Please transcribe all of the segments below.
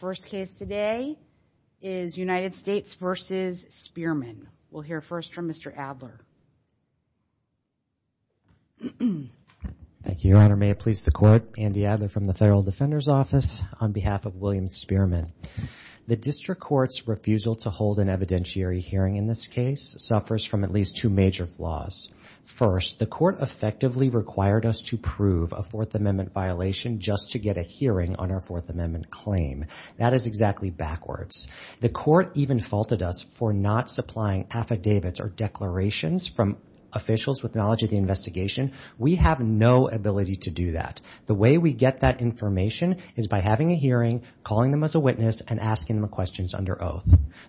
First case today is United States v. Spearman. We'll hear first from Mr. Adler. Thank you, Your Honor. May it please the Court? Andy Adler from the Federal Defender's Office on behalf of William Spearman. The District Court's refusal to hold an evidentiary hearing in this case suffers from at least two major flaws. First, the Court effectively required us to prove a Fourth Amendment violation just to get a hearing on our Fourth Amendment claim. That is exactly backwards. The Court even faulted us for not supplying affidavits or declarations from officials with knowledge of the investigation. We have no ability to do that. The way we get that information is by having a hearing, calling them as a witness, and asking them questions under oath.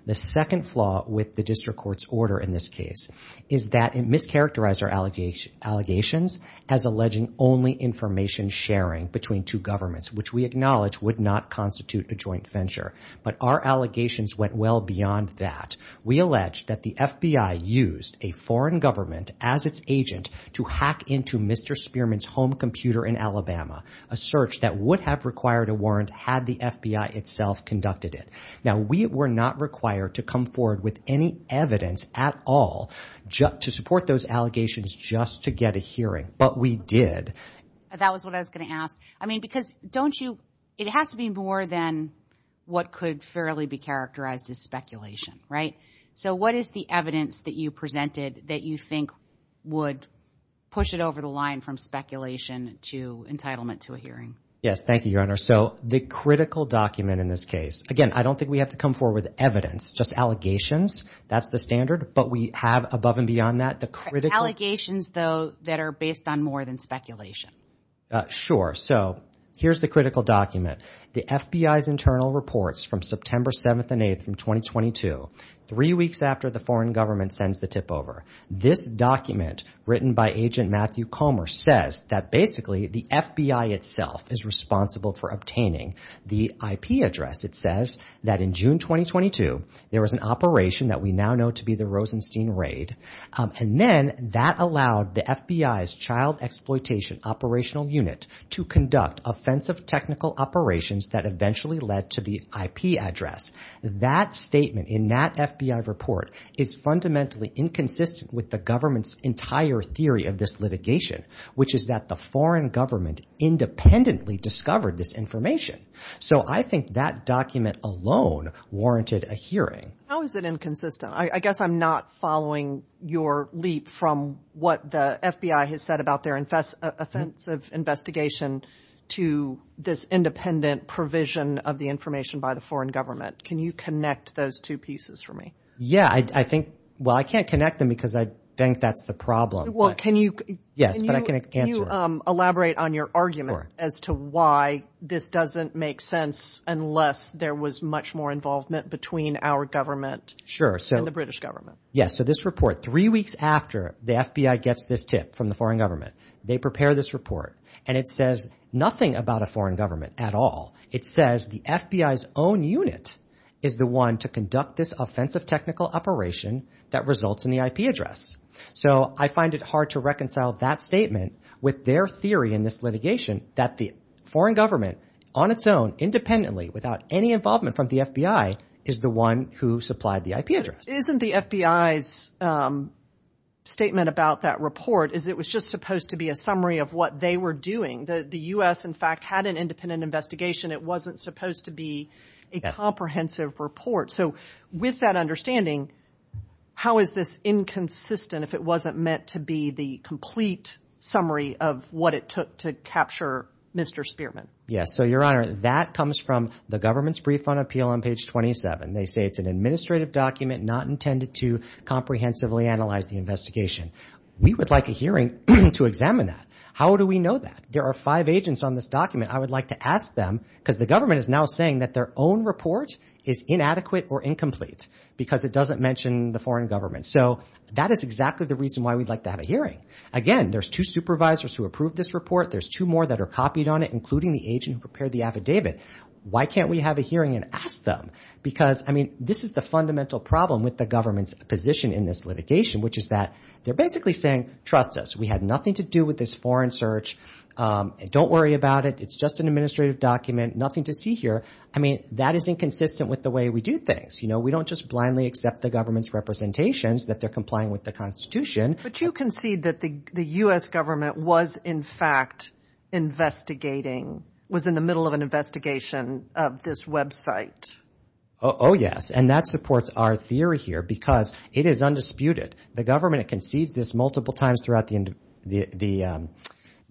The second flaw with the District Court's order in this case is that it mischaracterized our allegations as alleging only information sharing between two governments, which we acknowledge would not constitute a joint venture. But our allegations went well beyond that. We allege that the FBI used a foreign government as its agent to hack into Mr. Spearman's home computer in Alabama, a search that would have required a warrant had the FBI itself conducted it. Now, we were not required to come forward with any evidence at all to support those allegations just to get a hearing, but we did. That was what I was going to ask. I mean, because don't you, it has to be more than what could fairly be characterized as speculation, right? So what is the evidence that you presented that you think would push it over the line from speculation to entitlement to a hearing? Yes, thank you, Your Honor. So the critical document in this case, again, I don't think we have to come forward with evidence, just allegations. That's the standard, but we have above and beyond that. The allegations, though, that are based on more than speculation. Sure. So here's the critical document. The FBI's internal reports from September 7th and 8th in 2022, three weeks after the foreign government sends the tip over. This document written by agent Matthew Comer says that basically the FBI itself is responsible for obtaining the IP address. It says that in June 2022, there was an operation that we now know to be the Rosenstein raid. And then that allowed the FBI's child exploitation operational unit to conduct offensive technical operations that eventually led to the IP address. That statement in that FBI report is fundamentally inconsistent with the government's entire theory of this litigation, which is that the foreign government independently discovered this information. So I think that document alone warranted a hearing. How is it inconsistent? I guess I'm not following your leap from what the FBI has said about their offensive investigation to this independent provision of the information by the foreign government. Can you connect those two pieces for me? Yeah, I think, well, I can't connect them because I think that's the problem. Well, can you elaborate on your argument as to why this doesn't make sense unless there was much more involvement between our government and the British government? Yes. So this report three weeks after the FBI gets this tip from the foreign government, they prepare this report and it says nothing about a foreign government at all. It says the FBI's own unit is the one to conduct this offensive technical operation that results in the IP address. So I find it hard to reconcile that statement with their theory in this litigation that the foreign government on its own, independently, without any involvement from the FBI, is the one who supplied the IP address. Isn't the FBI's statement about that report is it was just supposed to be a summary of what they were doing. The US, in fact, had an independent investigation. It wasn't supposed to be a comprehensive report. So with that understanding, how is this inconsistent if it wasn't meant to be the complete summary of what it took to capture Mr. Spearman? Yes. So, Your Honor, that comes from the government's brief on appeal on page 27. They say it's an administrative document not intended to comprehensively analyze the investigation. We would like a hearing to examine that. How do we know that? There are five agents on this document. I would like to ask them because the government is now saying that their own report is inadequate or incomplete because it doesn't mention the foreign government. So that is exactly the reason why we'd like to have a hearing. Again, there's two supervisors who approved this report. There's two more that are copied on it, including the agent who prepared the affidavit. Why can't we have a hearing and ask them? Because, I mean, this is the fundamental problem with the government's position in this litigation, which is that they're basically saying, trust us. We had nothing to do with this foreign search. Don't worry about it. It's just an administrative document. Nothing to see here. I mean, that is inconsistent with the way we do things. You know, we don't just blindly accept the government's representations that they're complying with the Constitution. But you concede that the U.S. government was in fact investigating, was in the middle of an investigation of this website. Oh, yes. And that supports our theory here because it is undisputed. The government concedes this multiple times throughout the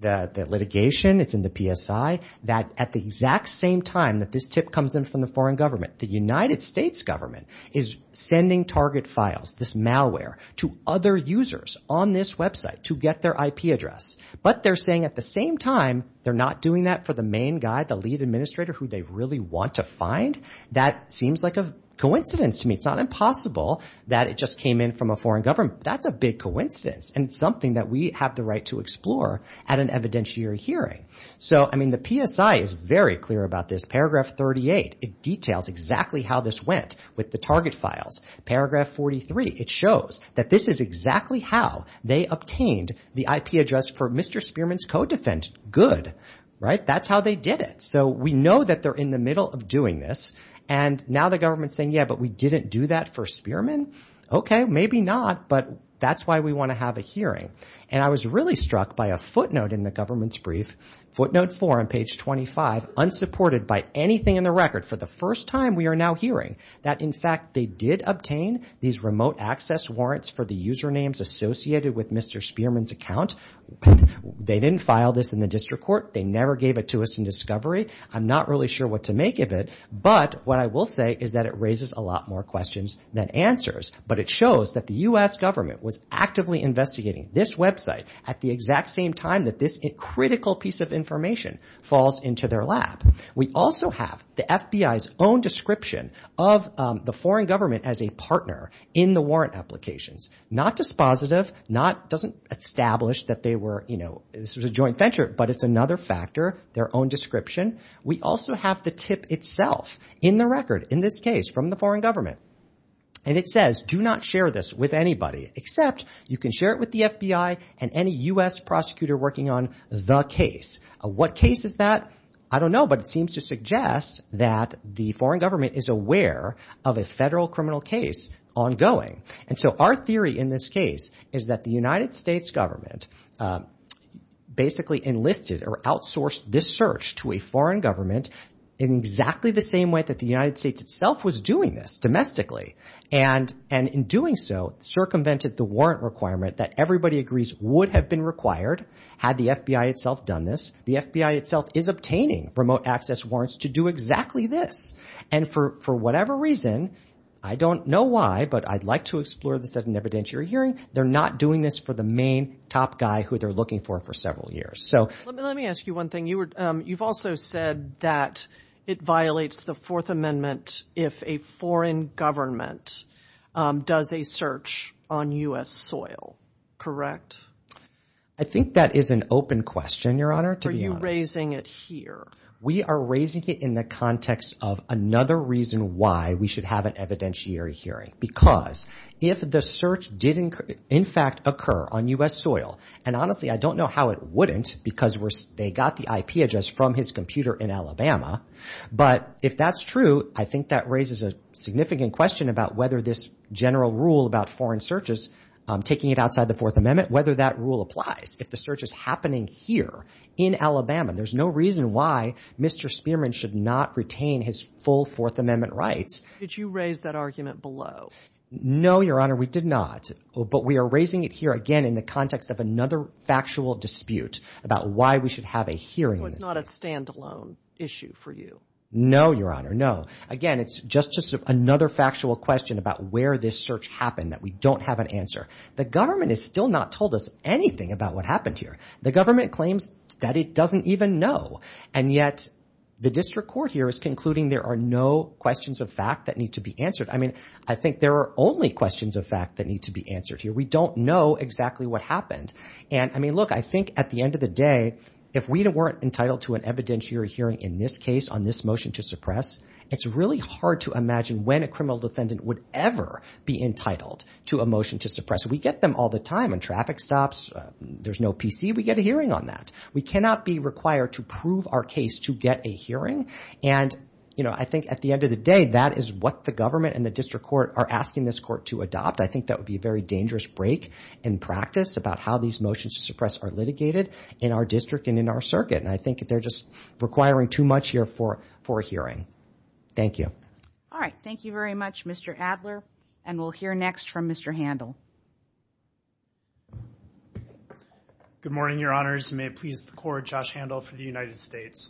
litigation. It's in the PSI that at the exact same time that this tip comes in from the foreign government, the United States government is sending target files, this malware, to other users on this website to get their IP address. But they're saying at the same time they're not doing that for the main guy, the lead administrator who they really want to find. That seems like a coincidence to me. It's not impossible that it just came in from a foreign government. That's a big coincidence and something that we have the right to explore at an evidentiary hearing. So, I mean, the PSI is very clear about this. Paragraph 38, it details exactly how this went with the target files. Paragraph 43, it shows that this is exactly how they obtained the IP address for Mr. Spearman's code defense. Good, right? That's how they did it. So we know that they're in the middle of doing this. And now the government's saying, yeah, but we didn't do that for Spearman. Okay, maybe not, but that's why we want to have a hearing. And I was really struck by a footnote in the government's brief, footnote 4 on page 25, unsupported by anything in the record for the first time we are now hearing that, in fact, they did obtain these remote access warrants for the usernames associated with Mr. Spearman's account. They didn't file this in the district court. They never gave it to us in discovery. I'm not really sure what to make of it, but what I will say is that it raises a lot more questions than answers. But it shows that the U.S. government was actively investigating this website at the exact same time that this critical piece of information falls into their lap. We also have the FBI's own description of the foreign government as a partner in the warrant applications. Not dispositive, not, doesn't establish that they were, you know, this was a joint venture, but it's another factor, their own description. We also have the tip itself in the record in this case from the foreign government. And it says do not share this with anybody except you can share it with the FBI and any U.S. prosecutor working on the case. What case is that? I don't know, but it seems to suggest that the foreign government is aware of a federal criminal case ongoing. And so our theory in this case is that the United States government basically enlisted or outsourced this search to a foreign government in exactly the same way that the United States itself was doing this domestically. And in doing so, circumvented the warrant requirement that everybody agrees would have been required had the FBI itself done this. The FBI itself is obtaining remote access warrants to do exactly this. And for whatever reason, I don't know why, but I'd like to explore this at an evidentiary hearing. They're not doing this for the main top guy who they're looking for for several years. So let me ask you one thing. You've also said that it violates the Fourth Amendment if a foreign government does a search on U.S. soil, correct? I think that is an open question, Your Honor. Are you raising it here? We are raising it in the context of another reason why we should have an evidentiary hearing. Because if the search did in fact occur on U.S. soil, and honestly, I don't know how it wouldn't because they got the IP address from his computer in Alabama. But if that's true, I think that raises a significant question about whether this general rule about foreign searches, taking it outside the Fourth Amendment, whether that rule applies. If the search is happening here in Alabama, there's no reason why Mr. Spearman should not retain his full Fourth Amendment rights. Did you raise that argument below? No, Your Honor, we did not. But we are raising it here again in the context of another factual dispute about why we should have a hearing. So it's not a standalone issue for you? No, Your Honor, no. Again, it's just another factual question about where this search happened that we don't have an answer. The government has still not told us anything about what happened here. The government claims that it doesn't even know. And yet, the district court here is concluding there are no questions of fact that need to be answered. I think there are only questions of fact that need to be answered here. We don't know exactly what happened. And look, I think at the end of the day, if we weren't entitled to an evidentiary hearing in this case on this motion to suppress, it's really hard to imagine when a criminal defendant would ever be entitled to a motion to suppress. We get them all the time on traffic stops. There's no PC. We get a hearing on that. We cannot be required to prove our case to get a hearing. And I think at the end of the day, that is what the government and the district court are asking this court to adopt. I think that would be a very dangerous break in practice about how these motions to suppress are litigated in our district and in our circuit. And I think they're just requiring too much here for a hearing. Thank you. All right. Thank you very much, Mr. Adler. And we'll hear next from Mr. Handel. Good morning, Your Honors. May it please the Court, Josh Handel for the United States.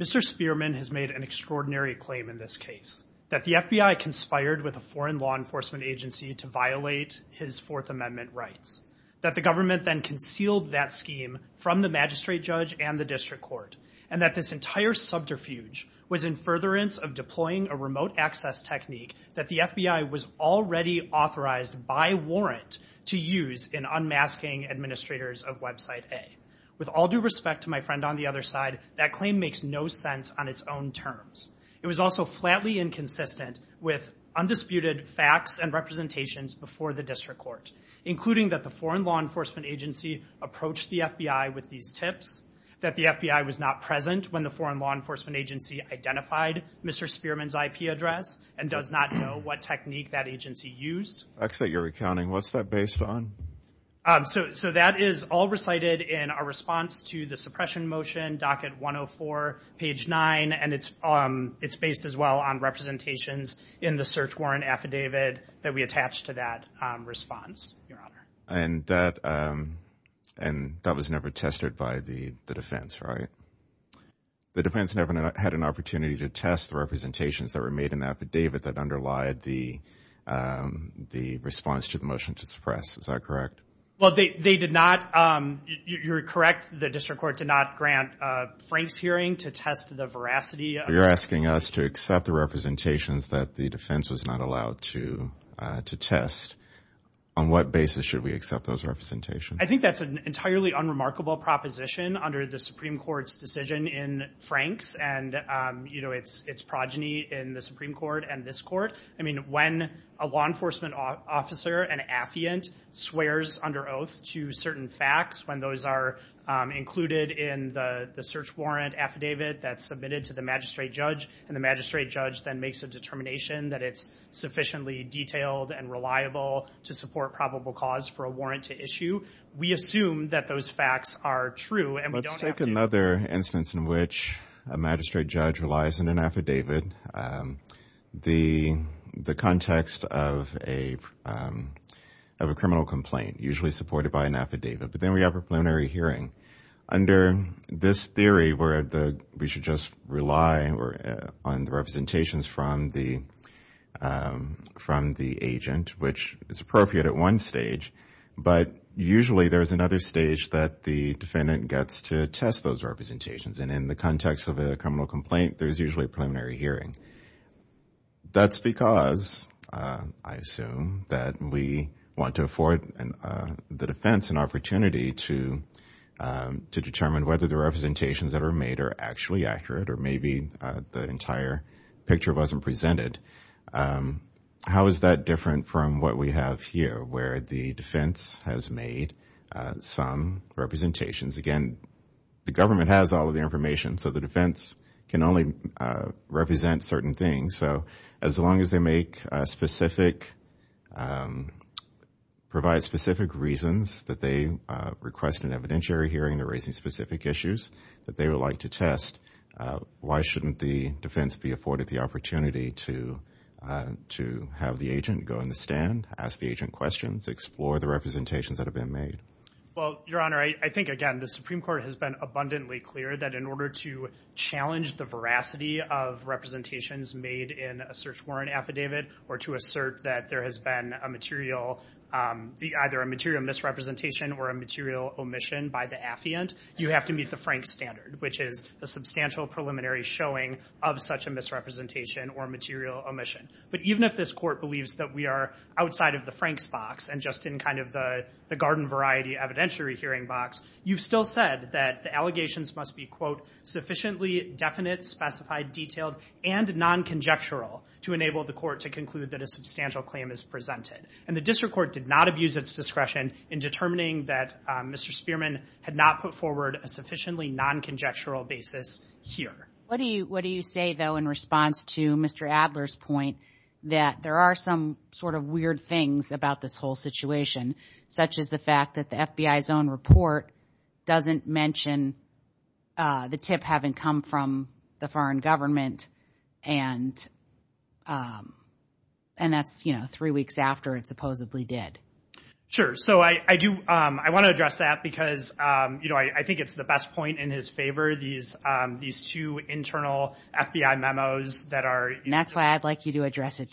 Mr. Spearman has made an extraordinary claim in this case, that the FBI conspired with a foreign law enforcement agency to violate his Fourth Amendment rights, that the government then concealed that scheme from the magistrate judge and the district court, and that this entire subterfuge was in furtherance of deploying a remote access technique that the FBI was already authorized by warrant to use in unmasking administrators of Website A. With all due respect to my friend on the other side, that claim makes no sense on its own terms. It was also flatly inconsistent with undisputed facts and representations before the district court, including that the foreign law enforcement agency approached the FBI with these tips, that the FBI was not present when the foreign law enforcement agency identified Mr. Spearman's IP address and does not know what technique that agency used. I accept your recounting. What's that based on? So that is all recited in our response to the suppression motion, docket 104, page 9, and it's based as well on representations in the search warrant affidavit that we attached to that response, Your Honor. And that was never tested by the defense, right? The defense never had an opportunity to test the representations that were made in the affidavit that underlied the response to the motion to suppress. Is that correct? Well, they did not. You're correct. The district court did not grant Frank's hearing to test the veracity. You're asking us to accept the representations that the defense was not allowed to test. On what basis should we accept those representations? I think that's an entirely unremarkable proposition under the Supreme Court's decision in Frank's and, you know, its progeny in the Supreme Court and this court. I mean, when a law enforcement officer, an affiant, swears under oath to certain facts, when those are included in the search warrant affidavit that's submitted to the magistrate judge, and the magistrate judge then makes a determination that it's sufficiently detailed and reliable to support probable cause for a warrant to issue, we assume that those facts are true. Let's take another instance in which a magistrate judge relies on an affidavit. The context of a criminal complaint, usually supported by an affidavit, but then we have a preliminary hearing. Under this theory where we should just rely on the representations from the agent, which is appropriate at one stage, but usually there's another stage that the defendant gets to test those representations. And in the context of a criminal complaint, there's usually a preliminary hearing. That's because, I assume, that we want to afford the defense an opportunity to determine whether the representations that are made are actually accurate or maybe the entire picture wasn't presented. How is that different from what we have here, where the defense has made some representations? Again, the government has all the information, so the defense can only represent certain things. So as long as they make specific, provide specific reasons that they request an evidentiary hearing, they're raising specific issues that they would like to test, why shouldn't the defense be afforded the opportunity to have the agent go in the stand, ask the agent questions, explore the representations that have been made? Well, Your Honor, I think, again, the Supreme Court has been abundantly clear that in order to challenge the veracity of representations made in a search warrant affidavit or to assert that there has been either a material misrepresentation or a material omission by the affiant, you have to meet the Frank standard, which is a substantial preliminary showing of such a misrepresentation or material omission. But even if this court believes that we are outside of the variety evidentiary hearing box, you've still said that the allegations must be, quote, sufficiently definite, specified, detailed, and non-conjectural to enable the court to conclude that a substantial claim is presented. And the district court did not abuse its discretion in determining that Mr. Spearman had not put forward a sufficiently non-conjectural basis here. What do you say, though, in response to Mr. Adler's point that there are some sort of weird things about this whole situation, such as the fact that the FBI's own report doesn't mention the tip having come from the foreign government, and that's, you know, three weeks after it supposedly did? Sure. So I do, I want to address that because, you know, I think it's the best point in his favor, these two internal FBI memos that are... And that's why I'd like you to address it.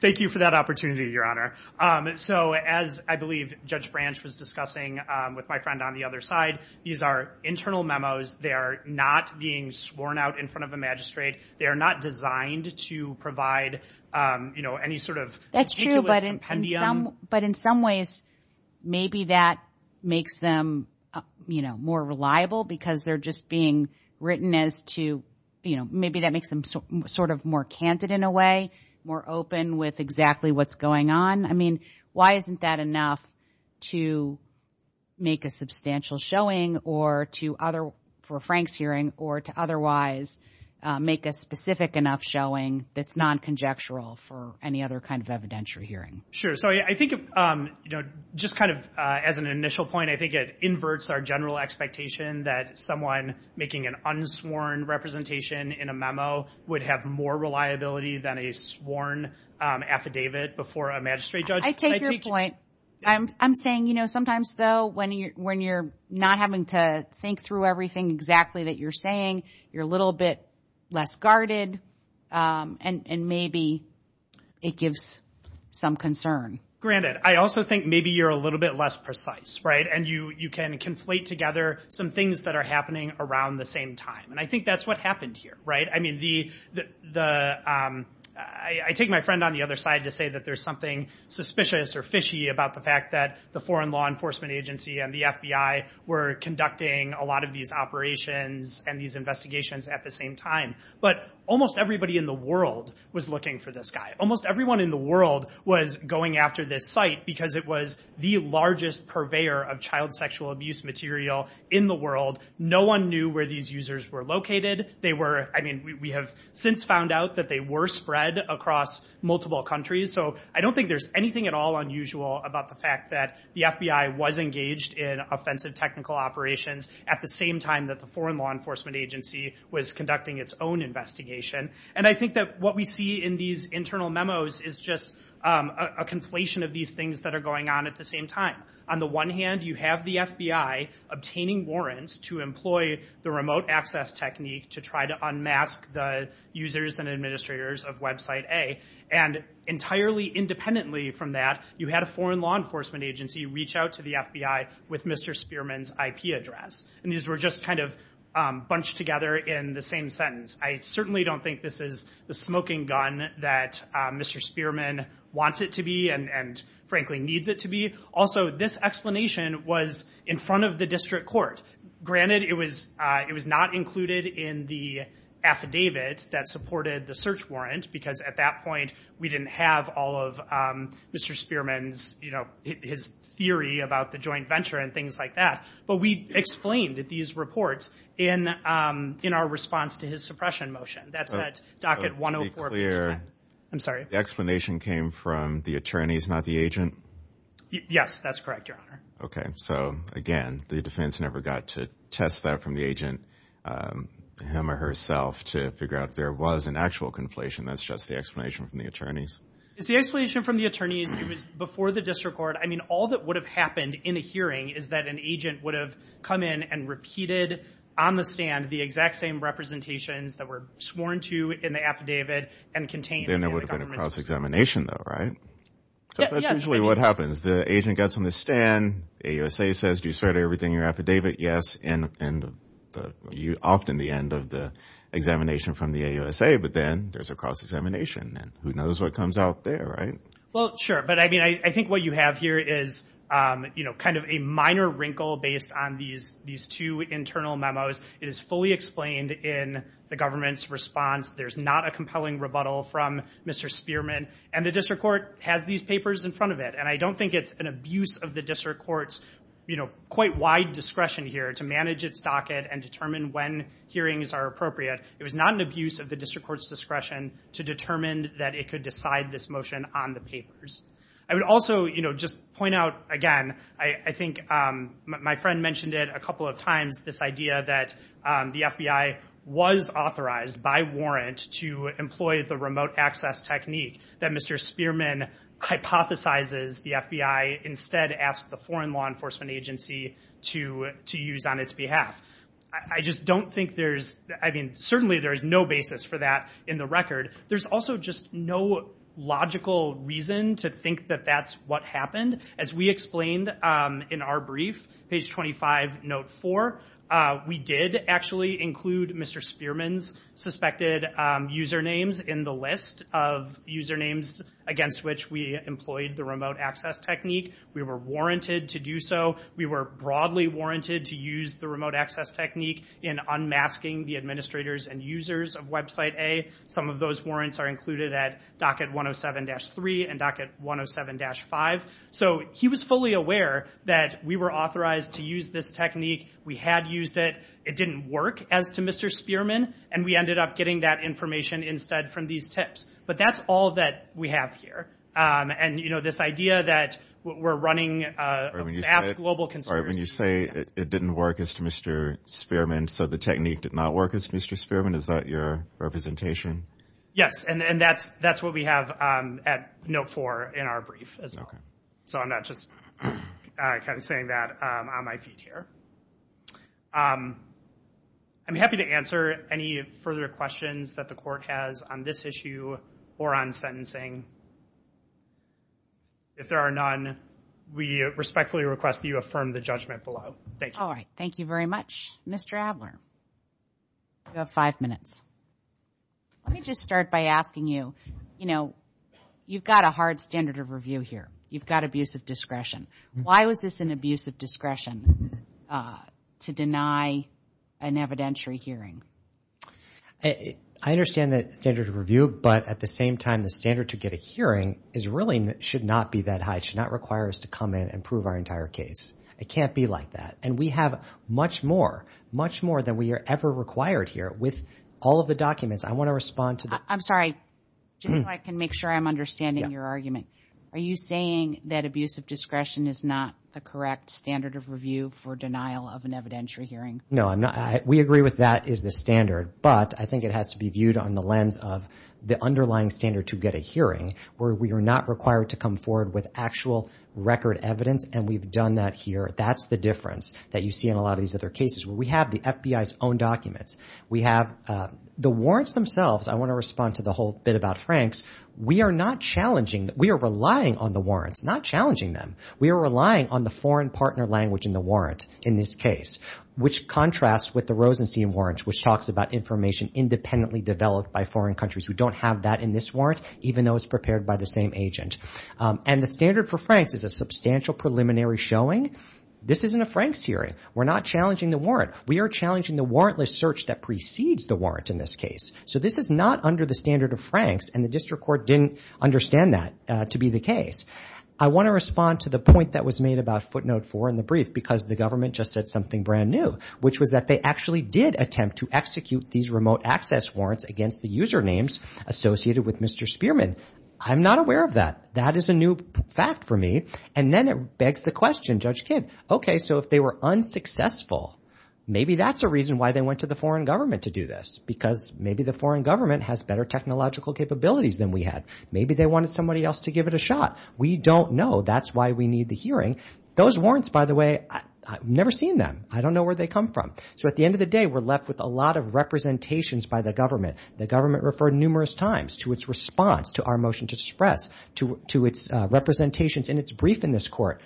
Thank you for that opportunity, Your Honor. So as I believe Judge Branch was discussing with my friend on the other side, these are internal memos. They are not being sworn out in front of a magistrate. They are not designed to provide, you know, any sort of meticulous compendium. But in some ways, maybe that makes them, you know, more reliable because they're just being written as to, you know, maybe that makes them sort of more candid in a way, more open with exactly what's going on. I mean, why isn't that enough to make a substantial showing or to other, for Frank's hearing, or to otherwise make a specific enough showing that's non-conjectural for any other kind of evidentiary hearing? Sure. So I think, you know, just kind of as an initial point, I think it inverts our general expectation that someone making an unsworn representation in a memo would have more reliability than a sworn affidavit before a magistrate judge. I take your point. I'm saying, you know, sometimes though, when you're not having to think through everything exactly that you're saying, you're a little bit less guarded, and maybe it gives some concern. Granted. I also think maybe you're a little bit less precise, right? And you can conflate together some things that are happening around the same time. And I think that's what happened here, right? I mean, I take my friend on the other side to say that there's something suspicious or fishy about the fact that the Foreign Law Enforcement Agency and the FBI were conducting a lot of these operations and these investigations at the same time. But almost everybody in the world was looking for this guy. Almost everyone in the world was going after this site because it was the largest purveyor of child sexual abuse material in the world. No one knew where these users were located. They were, I mean, we have since found out that they were spread across multiple countries. So I don't think there's anything at all unusual about the fact that the FBI was engaged in offensive technical operations at the same time that the Foreign Law Enforcement Agency was conducting its own investigation. And I think that what we see in these internal memos is just a conflation of these things that are going on at the same time. On the one hand, you have the FBI obtaining warrants to employ the remote access technique to try to unmask the users and administrators of website A. And entirely independently from that, you had a Foreign Law Enforcement Agency reach out to the FBI with Mr. Spearman's IP address. And these were just kind of bunched together in the same sentence. I certainly don't think this is the smoking gun that Mr. Spearman wants it to be and, frankly, needs it to be. Also, this explanation was in front of the district court. Granted, it was not included in the affidavit that supported the search warrant because at that point, we didn't have all of Mr. Spearman's theory about the joint venture and things like that. But we explained these reports in our response to his suppression motion. That's at Docket 104. I'm sorry. The explanation came from the attorneys, not the agent? Yes, that's correct, Your Honor. Okay. So again, the defense never got to test that from the agent, him or herself, to figure out if there was an actual conflation. That's just the explanation from the attorneys? It's the explanation from the attorneys. It was before the district court. I an agent would have come in and repeated on the stand the exact same representations that were sworn to in the affidavit and contained. Then there would have been a cross-examination, though, right? Yes. That's usually what happens. The agent gets on the stand. The AUSA says, do you swear to everything in your affidavit? Yes. And you're often the end of the examination from the AUSA. But then there's a cross-examination and who knows what comes out there, right? Well, sure. But I think what you have here is kind of a minor wrinkle based on these two internal memos. It is fully explained in the government's response. There's not a compelling rebuttal from Mr. Spearman. And the district court has these papers in front of it. And I don't think it's an abuse of the district court's quite wide discretion here to manage its docket and determine when hearings are appropriate. It was not an abuse of the district court's discretion to determine that it could decide this motion on the papers. I would also just point out, again, I think my friend mentioned it a couple of times, this idea that the FBI was authorized by warrant to employ the remote access technique that Mr. Spearman hypothesizes the FBI instead asked the Foreign Law Enforcement Agency to use on its behalf. I just don't think there's, I mean, certainly there is no basis for that in the record. There's also just no logical reason to think that that's what happened. As we explained in our brief, page 25, note four, we did actually include Mr. Spearman's suspected usernames in the list of usernames against which we employed the remote access technique. We were warranted to do so. We were broadly warranted to use the remote access technique in unmasking the administrators and users of website A. Some of those warrants are included at docket 107-3 and docket 107-5. So he was fully aware that we were authorized to use this technique. We had used it. It didn't work as to Mr. Spearman. And we ended up getting that information instead from these tips. But that's all that we have here. And, you know, this idea that we're running, ask global consumers. When you say it didn't work as to Mr. Spearman, so the technique did not work as Mr. Spearman, is that your representation? Yes. And that's what we have at note four in our brief as well. So I'm not just kind of saying that on my feet here. I'm happy to answer any further questions that the court has on this issue or on sentencing. If there are none, we respectfully request that you affirm the judgment below. Thank you. All right. Thank you very much, Mr. Adler. You have five minutes. Let me just start by asking you, you know, you've got a hard standard of review here. You've got abusive discretion. Why was this an abuse of discretion to deny an evidentiary hearing? I understand that standard of review, but at the same time, the standard to get a hearing is really should not be that high, should not require us to come in and prove our entire case. It can't be like that. And we have much more, much more than we are ever required here with all of the documents. I want to respond to that. I'm sorry, just so I can make sure I'm understanding your argument. Are you saying that abuse of discretion is not the correct standard of review for denial of an evidentiary hearing? No, I'm not. We agree with that is the standard, but I think it has to be viewed on the lens of underlying standard to get a hearing where we are not required to come forward with actual record evidence. And we've done that here. That's the difference that you see in a lot of these other cases where we have the FBI's own documents. We have the warrants themselves. I want to respond to the whole bit about Frank's. We are not challenging. We are relying on the warrants, not challenging them. We are relying on the foreign partner language in the warrant in this case, which contrasts with the Rosenstein warrants, which talks about information independently developed by foreign countries. We don't have that in this warrant, even though it's prepared by the same agent. And the standard for Frank's is a substantial preliminary showing. This isn't a Frank's hearing. We're not challenging the warrant. We are challenging the warrantless search that precedes the warrant in this case. So this is not under the standard of Frank's, and the district court didn't understand that to be the case. I want to respond to the point that was made about footnote four in the brief because the government just said something brand new, which was that they actually did attempt to execute these remote access warrants against the usernames associated with Mr. Spearman. I'm not aware of that. That is a new fact for me. And then it begs the question, Judge Kidd, okay, so if they were unsuccessful, maybe that's a reason why they went to the foreign government to do this, because maybe the foreign government has better technological capabilities than we had. Maybe they wanted somebody else to give it a shot. We don't know. That's why we need the hearing. Those warrants, by the way, I've never seen them. I don't know where they come from. So at the end of the day, we're left with a lot of representations by the government. The government referred numerous times to its response to our motion to suppress, to its representations in its brief in this court.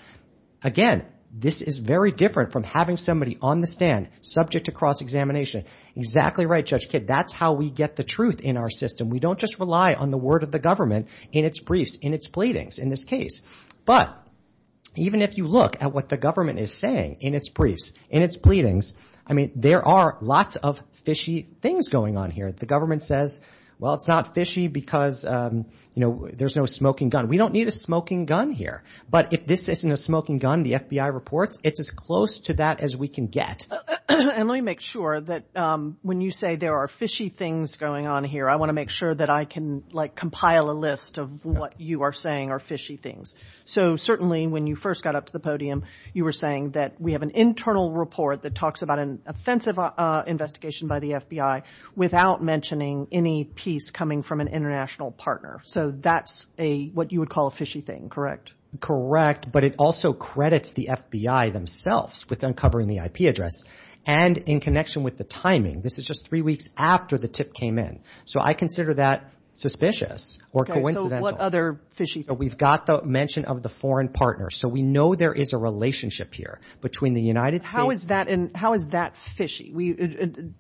Again, this is very different from having somebody on the stand, subject to cross-examination. Exactly right, Judge Kidd. That's how we get the truth in our system. We don't just rely on the word of the government in its briefs, its pleadings in this case. But even if you look at what the government is saying in its briefs, in its pleadings, I mean, there are lots of fishy things going on here. The government says, well, it's not fishy because there's no smoking gun. We don't need a smoking gun here. But if this isn't a smoking gun, the FBI reports, it's as close to that as we can get. And let me make sure that when you say there are fishy things going on here, I want to make sure that I can compile a list of what you are saying are fishy things. So certainly when you first got up to the podium, you were saying that we have an internal report that talks about an offensive investigation by the FBI without mentioning any piece coming from an international partner. So that's what you would call a fishy thing, correct? Correct. But it also credits the FBI themselves with uncovering the IP address. And in connection with the timing, this is just three weeks after the tip came in. So I consider that suspicious or coincidental. Okay, so what other fishy things? We've got the mention of the foreign partner. So we know there is a relationship here between the United States... How is that fishy?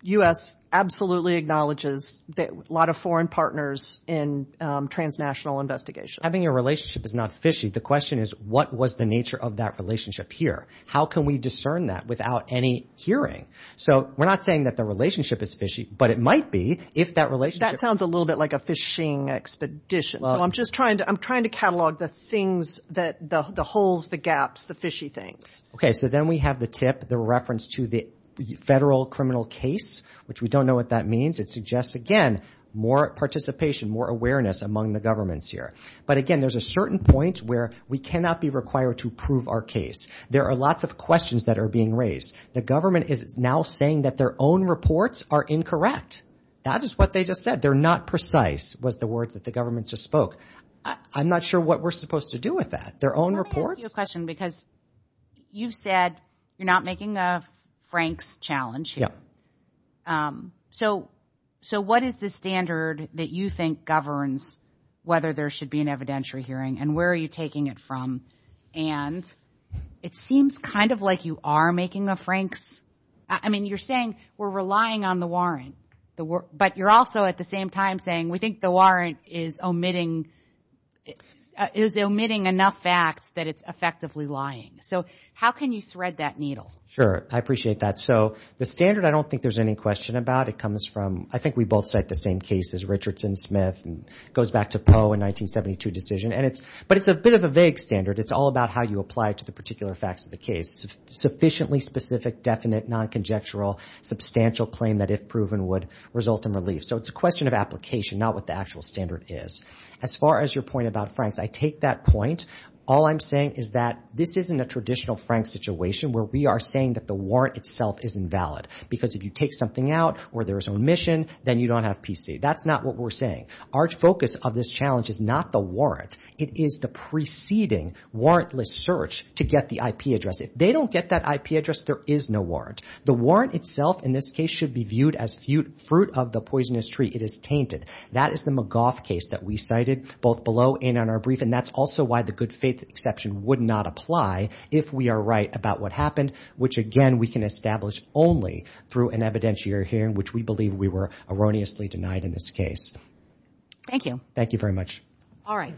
U.S. absolutely acknowledges a lot of foreign partners in transnational investigations. Having a relationship is not fishy. The question is, what was the nature of that relationship here? How can we discern that without any hearing? So we're not saying that the relationship is fishy, but it might be if that relationship... That sounds a little bit like a fishing expedition. So I'm just trying to catalog the things, the holes, the gaps, the fishy things. Okay, so then we have the tip, the reference to the federal criminal case, which we don't know what that means. It suggests, again, more participation, more awareness among the governments here. But again, there's a certain point where we cannot be required to prove our case. There are lots of questions that are being raised. The government is now saying that their own reports are incorrect. That is what they just said. They're not precise, was the words that the government just spoke. I'm not sure what we're supposed to do with that. Their own reports... Let me ask you a question because you've said you're not making a Franks challenge here. Yeah. So what is the standard that you think governs whether there should be an evidentiary hearing, and where are you taking it from? And it seems kind of like you are making a Franks... I mean, you're saying we're relying on the warrant, but you're also, at the same time, saying we think the warrant is omitting enough facts that it's effectively lying. So how can you thread that needle? Sure. I appreciate that. So the standard, I don't think there's any question about. It comes from... I think we both cite the same cases, Richardson, Smith, and it goes back to Poe in 1972 decision. But it's a bit of a vague standard. It's all about how you apply it to the particular facts of the case. Sufficiently specific, definite, non-conjectural, substantial claim that, if proven, would result in relief. So it's a question of application, not what the actual standard is. As far as your point about Franks, I take that point. All I'm saying is that this isn't a traditional Franks situation where we are saying that the warrant itself is invalid. Because if you take something out where there is omission, then you don't have PC. That's not what we're saying. Our focus of this challenge is not the warrant. It is the preceding warrantless search to get the IP address. If they don't get that IP address, there is no warrant. The warrant itself, in this case, should be viewed as fruit of the poisonous tree. It is tainted. That is the McGough case that we cited, both below and in our brief. And that's also why the good faith exception would not apply if we are right about what happened, which, again, we can establish only through an evidentiary hearing, which we believe we were erroneously denied in this case. Thank you. Thank you very much. All right.